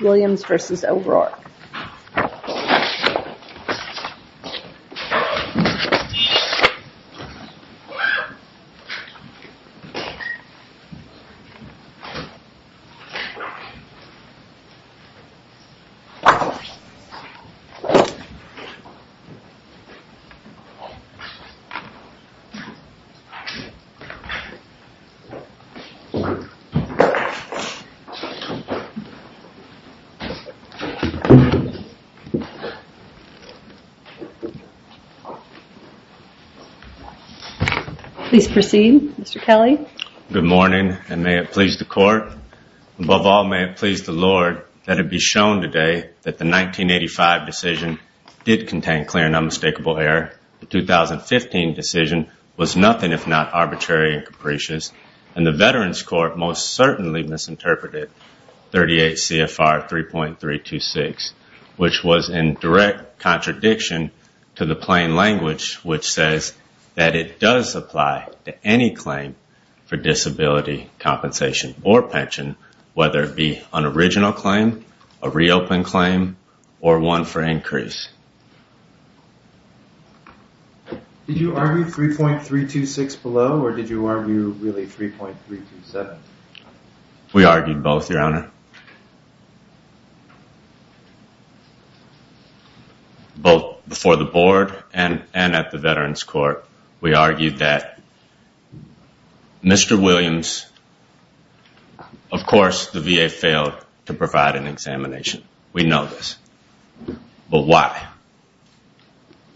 Williams v. O'Rourke Please proceed Mr. Kelly. Good morning and may it please the court. Above all may it please the Lord that it be shown today that the 1985 decision did contain clear and unmistakable error. The 2015 decision was nothing if not arbitrary and capricious and the Veterans Court most certainly misinterpreted 38 CFR 3.326 which was in direct contradiction to the plain language which says that it does apply to any claim for disability compensation or pension whether it be an original claim, a reopened claim or one for increase. Did you argue 3.326 below or did you argue really 3.327? We argued both Your Honor. Both before the board and at the Veterans Court we argued that Mr. Williams of course the VA failed to provide an examination. We know this. But why?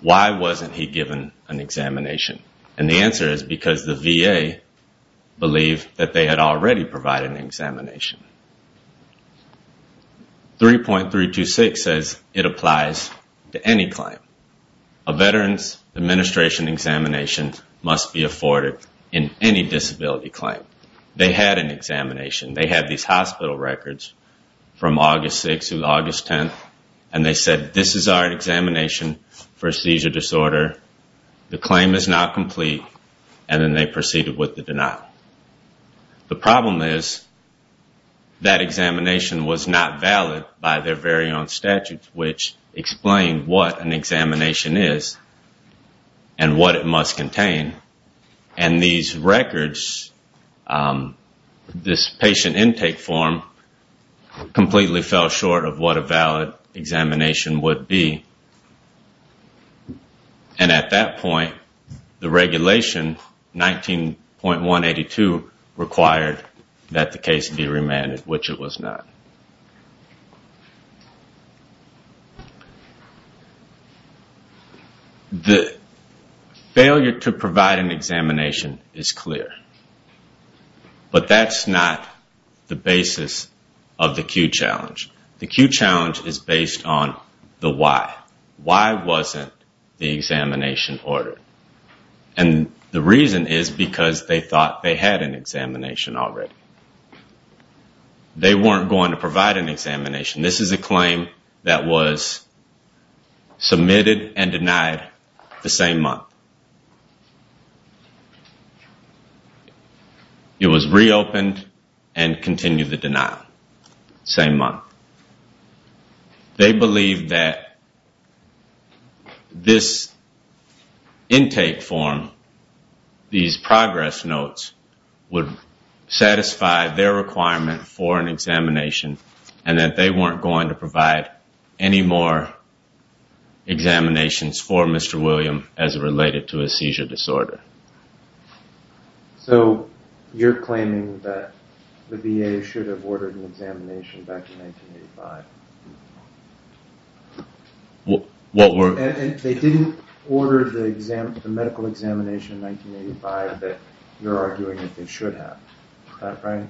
Why wasn't he given an examination? And the answer is because the VA believed that they had already provided an examination. 3.326 says it applies to any claim. A Veterans Administration examination must be afforded in any disability claim. They had an examination. They had these hospital records from August 6th to August 10th and they said this is our examination for a seizure disorder. The claim is now complete and then they proceeded with the denial. The problem is that examination was not valid by their very own statutes which explain what an examination is and what it must contain. And these records, this patient intake form completely fell short of what a valid examination would be. And at that point the regulation 19.182 required that the case be remanded which it was not. The failure to provide an examination is clear. But that's not the basis of the Q challenge. The Q challenge is based on the why. Why wasn't the examination ordered? And the reason is because they thought they had an examination already. They weren't going to provide an examination. This is a claim that was submitted and denied the same month. It was reopened and continued the denial the same month. They believed that this intake form, these progress notes would satisfy their requirement for an examination and that they weren't going to provide any more examinations for Mr. William as related to a seizure disorder. So you're claiming that the VA should have ordered an examination back in 1985? They didn't order the medical examination in 1985 that you're arguing that they should have, is that right?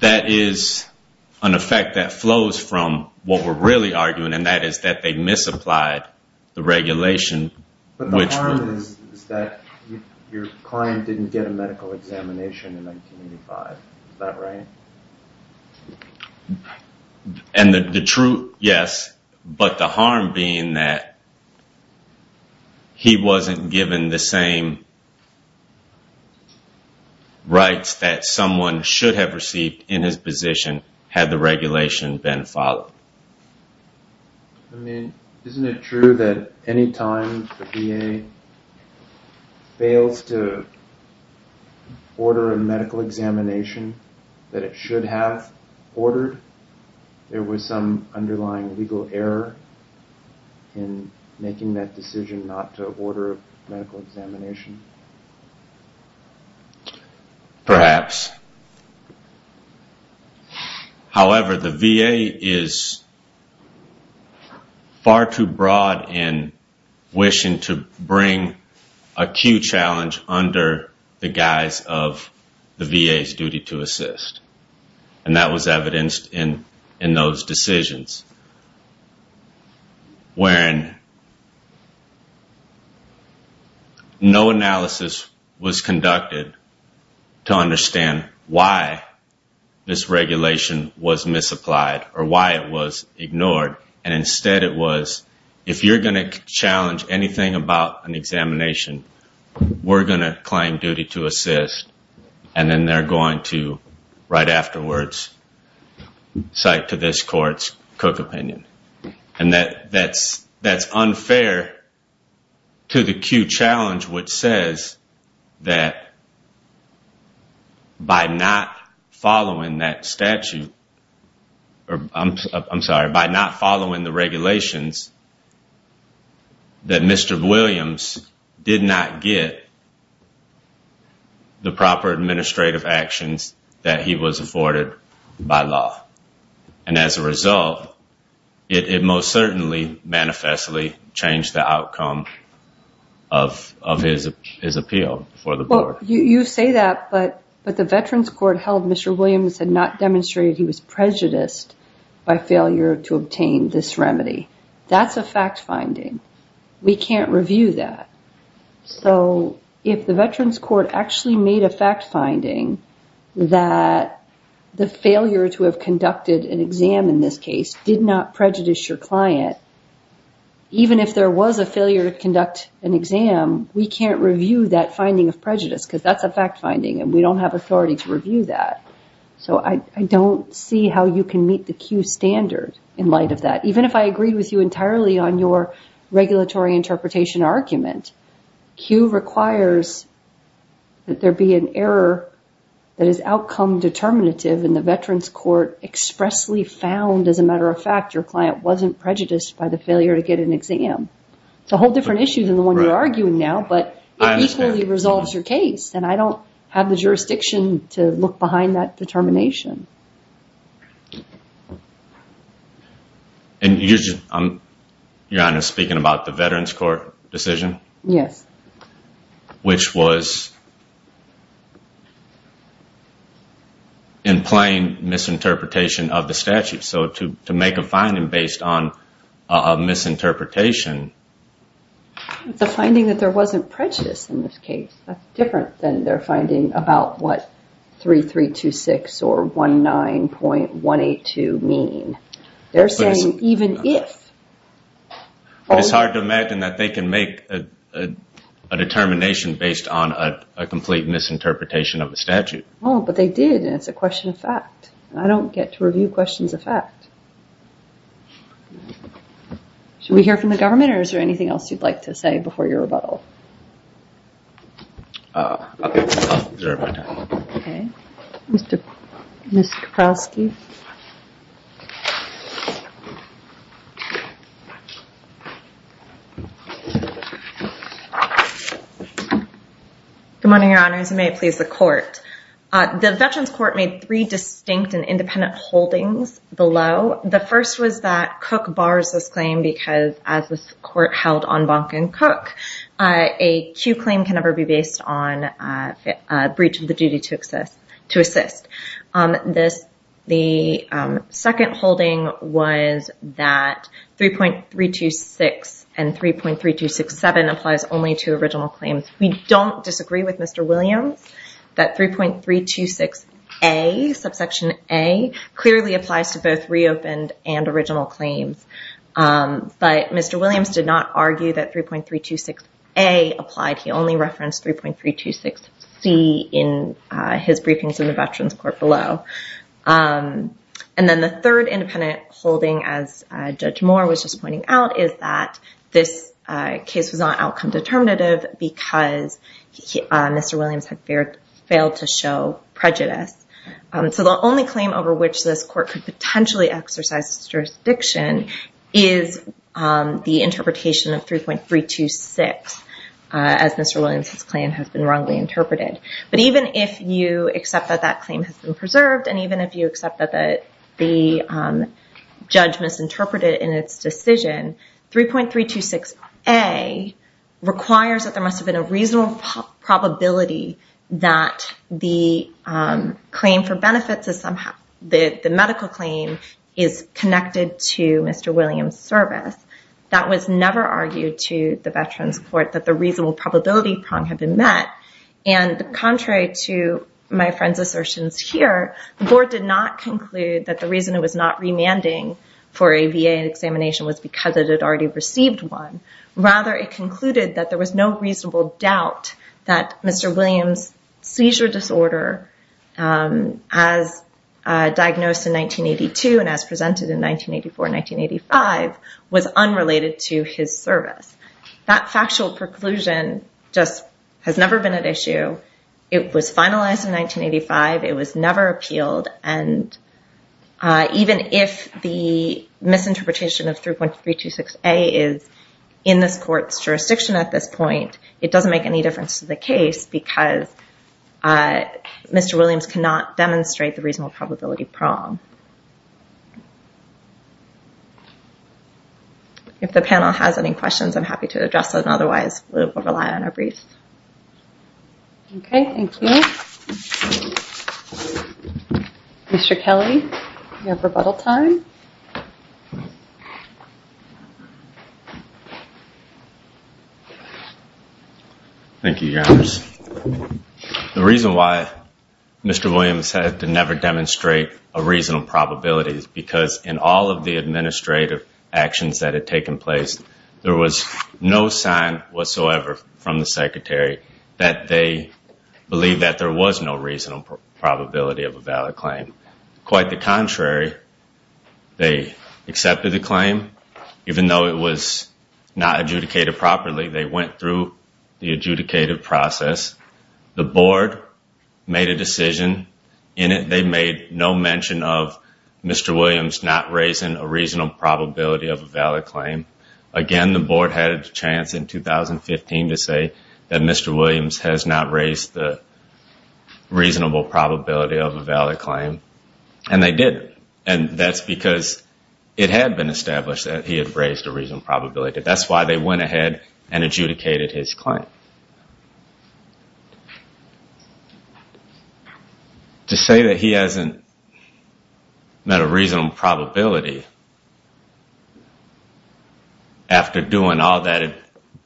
That is an effect that flows from what we're really arguing and that is that they misapplied the regulation. But the harm is that your client didn't get a medical examination in 1985, is that right? And the truth, yes, but the harm being that he wasn't given the same rights that someone should have received in his position had the regulation been followed. I mean, isn't it true that any time the VA fails to order a medical examination that it should have ordered, there was some underlying legal error in making that decision not to order a medical examination? Perhaps. However, the VA is far too broad in wishing to bring acute challenge under the guise of the VA's duty to assist and that was evidenced in those decisions. When no analysis was conducted to understand why this regulation was misapplied or why it was ignored and instead it was, if you're going to challenge anything about an examination, we're going to claim duty to assist and then they're going to, right afterwards, cite to this court's co-concern. And that's unfair to the acute challenge which says that by not following that statute, I'm sorry, by not following the regulations, that Mr. Williams did not get the proper administrative actions that he was afforded by law. And as a result, it most certainly manifestly changed the outcome of his appeal for the board. You say that, but the Veterans Court held Mr. Williams had not demonstrated he was prejudiced by failure to obtain this remedy. That's a fact finding. We can't review that. So, if the Veterans Court actually made a fact finding that the failure to have conducted an exam in this case did not prejudice your client, even if there was a failure to conduct an exam, we can't review that finding of prejudice because that's a fact finding and we don't have authority to review that. So, I don't see how you can meet the Q standard in light of that. Even if I agreed with you entirely on your regulatory interpretation argument, Q requires that there be an error that is outcome determinative and the Veterans Court expressly found, as a matter of fact, your client wasn't prejudiced by the failure to get an exam. It's a whole different issue than the one you're arguing now, but it equally resolves your case and I don't have the jurisdiction to look behind that determination. Your Honor, speaking about the Veterans Court decision, which was in plain misinterpretation of the statute, so to make a finding based on a misinterpretation. The finding that there wasn't prejudice in this case, that's different than their finding about what 3326 or 19.182 mean. They're saying even if. It's hard to imagine that they can make a determination based on a complete misinterpretation of the statute. Well, but they did and it's a question of fact. I don't get to review questions of fact. Should we hear from the government or is there anything else you'd like to say before your rebuttal? Okay, I'll reserve my time. Okay. Ms. Kaprowski. Good morning, Your Honors, and may it please the court. The Veterans Court made three distinct and independent holdings below. The first was that Cook bars this claim because as the court held on Bonk and Cook, a Q claim can never be based on a breach of the duty to assist. The second holding was that 3.326 and 3.3267 applies only to original claims. We don't disagree with Mr. Williams that 3.326A, subsection A, clearly applies to both reopened and original claims. But Mr. Williams did not argue that 3.326A applied. He only referenced 3.326C in his briefings in the Veterans Court below. And then the third independent holding, as Judge Moore was just pointing out, is that this case was not outcome determinative because Mr. Williams had failed to show prejudice. So the only claim over which this court could potentially exercise jurisdiction is the interpretation of 3.326, as Mr. Williams' claim has been wrongly interpreted. But even if you accept that that claim has been preserved, and even if you accept that the judge misinterpreted it in its decision, 3.326A requires that there must have been a reasonable probability that the claim for benefits, the medical claim, is connected to Mr. Williams' service. That was never argued to the Veterans Court, that the reasonable probability prong had been met. And contrary to my friend's assertions here, the board did not conclude that the reason it was not remanding for a VA examination was because it had already received one. Rather, it concluded that there was no reasonable doubt that Mr. Williams' seizure disorder, as diagnosed in 1982 and as presented in 1984 and 1985, was unrelated to his service. That factual preclusion just has never been at issue. It was finalized in 1985. It was never appealed. And even if the misinterpretation of 3.326A is in this court's jurisdiction at this point, it doesn't make any difference to the case because Mr. Williams cannot demonstrate the reasonable probability prong. If the panel has any questions, I'm happy to address them. Otherwise, we will rely on our briefs. Okay. Thank you. Mr. Kelly, you have rebuttal time. Thank you, Your Honors. The reason why Mr. Williams had to never demonstrate a reasonable probability is because in all of the administrative actions that had taken place, there was no sign whatsoever from the Secretary that they believed that there was no reasonable probability of a valid claim. Quite the contrary, they accepted the claim. Even though it was not adjudicated properly, they went through the adjudicated process. The Board made a decision in it. They made no mention of Mr. Williams not raising a reasonable probability of a valid claim. Again, the Board had a chance in 2015 to say that Mr. Williams has not raised the reasonable probability of a valid claim, and they did. And that's because it had been established that he had raised a reasonable probability. That's why they went ahead and adjudicated his claim. To say that he hasn't met a reasonable probability, after doing all that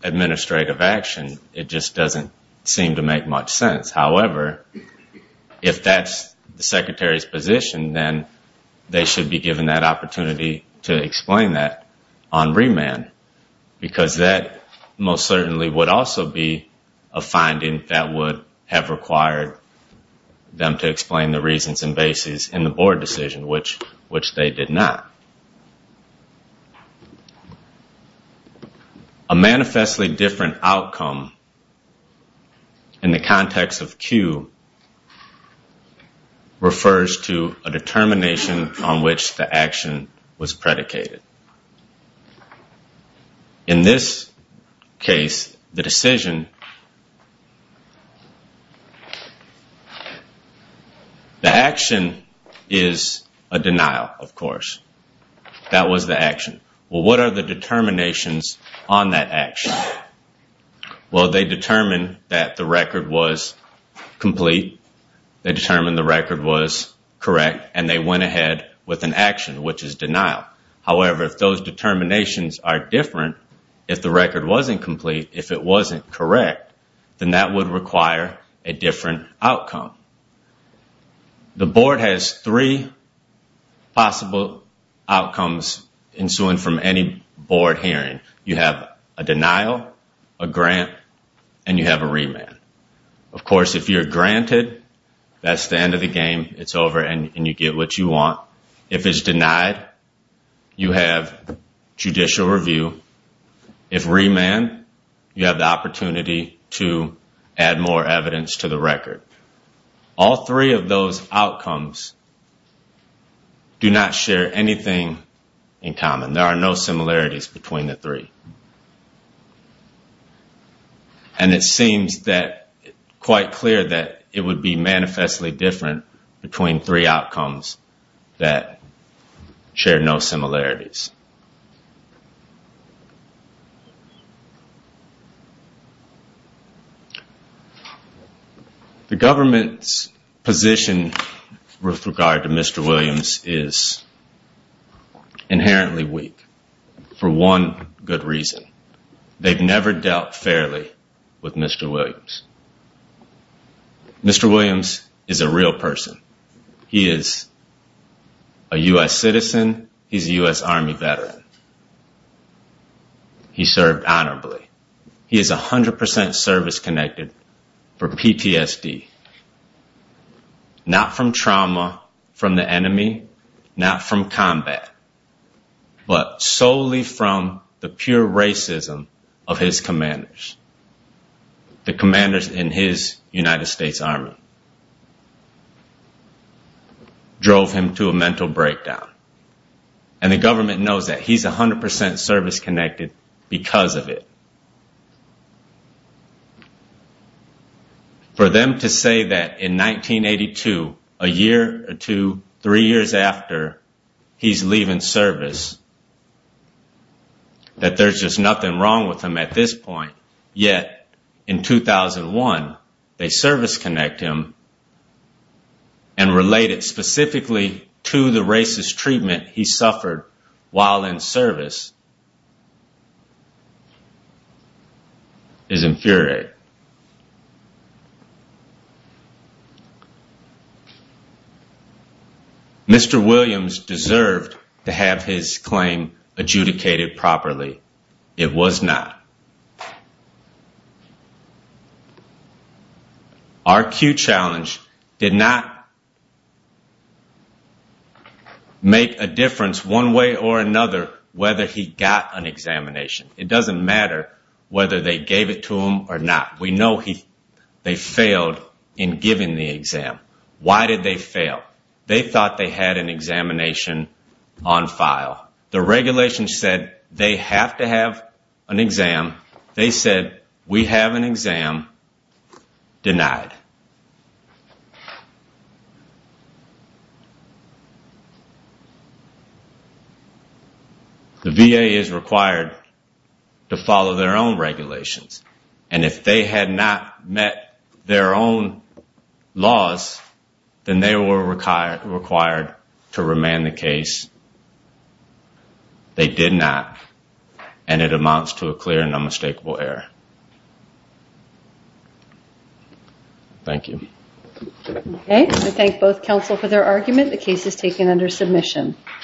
administrative action, it just doesn't seem to make much sense. However, if that's the Secretary's position, then they should be given that opportunity to explain that on remand. Because that most certainly would also be a finding that would have required them to explain the reasons and basis in the Board decision, which they did not. A manifestly different outcome in the context of Q refers to a determination on which the action was predicated. In this case, the decision, the action is a denial, of course. That was the action. Well, what are the determinations on that action? Well, they determined that the record was complete. They determined the record was correct, and they went ahead with an action, which is denial. However, if those determinations are different, if the record wasn't complete, if it wasn't correct, then that would require a different outcome. The Board has three possible outcomes ensuing from any Board hearing. You have a denial, a grant, and you have a remand. Of course, if you're granted, that's the end of the game. It's over and you get what you want. If it's denied, you have judicial review. If remanded, you have the opportunity to add more evidence to the record. All three of those outcomes do not share anything in common. There are no similarities between the three. And it seems quite clear that it would be manifestly different between three outcomes that share no similarities. The government's position with regard to Mr. Williams is inherently weak for one good reason. They've never dealt fairly with Mr. Williams. Mr. Williams is a real person. He is a U.S. citizen. He's a U.S. Army veteran. He served honorably. He is 100% service-connected for PTSD, not from trauma from the enemy, not from combat, but solely from the pure racism of his commanders. The commanders in his United States Army drove him to a mental breakdown. And the government knows that he's 100% service-connected because of it. For them to say that in 1982, a year or two, three years after, he's leaving service, that there's just nothing wrong with him at this point, yet in 2001, they service-connect him and relate it specifically to the racist treatment he suffered while in service, is infuriating. Mr. Williams deserved to have his claim adjudicated properly. It was not. Our Q challenge did not make a difference one way or another whether he got an examination. It doesn't matter whether they gave it to him or not. We know they failed in giving the exam. Why did they fail? They thought they had an examination on file. The regulations said they have to have an exam. They said, we have an exam. Denied. The VA is required to follow their own regulations. And if they had not met their own laws, then they were required to remand the case. They did not. And it amounts to a clear and unmistakable error. Thank you. I thank both counsel for their argument. The case is taken under submission.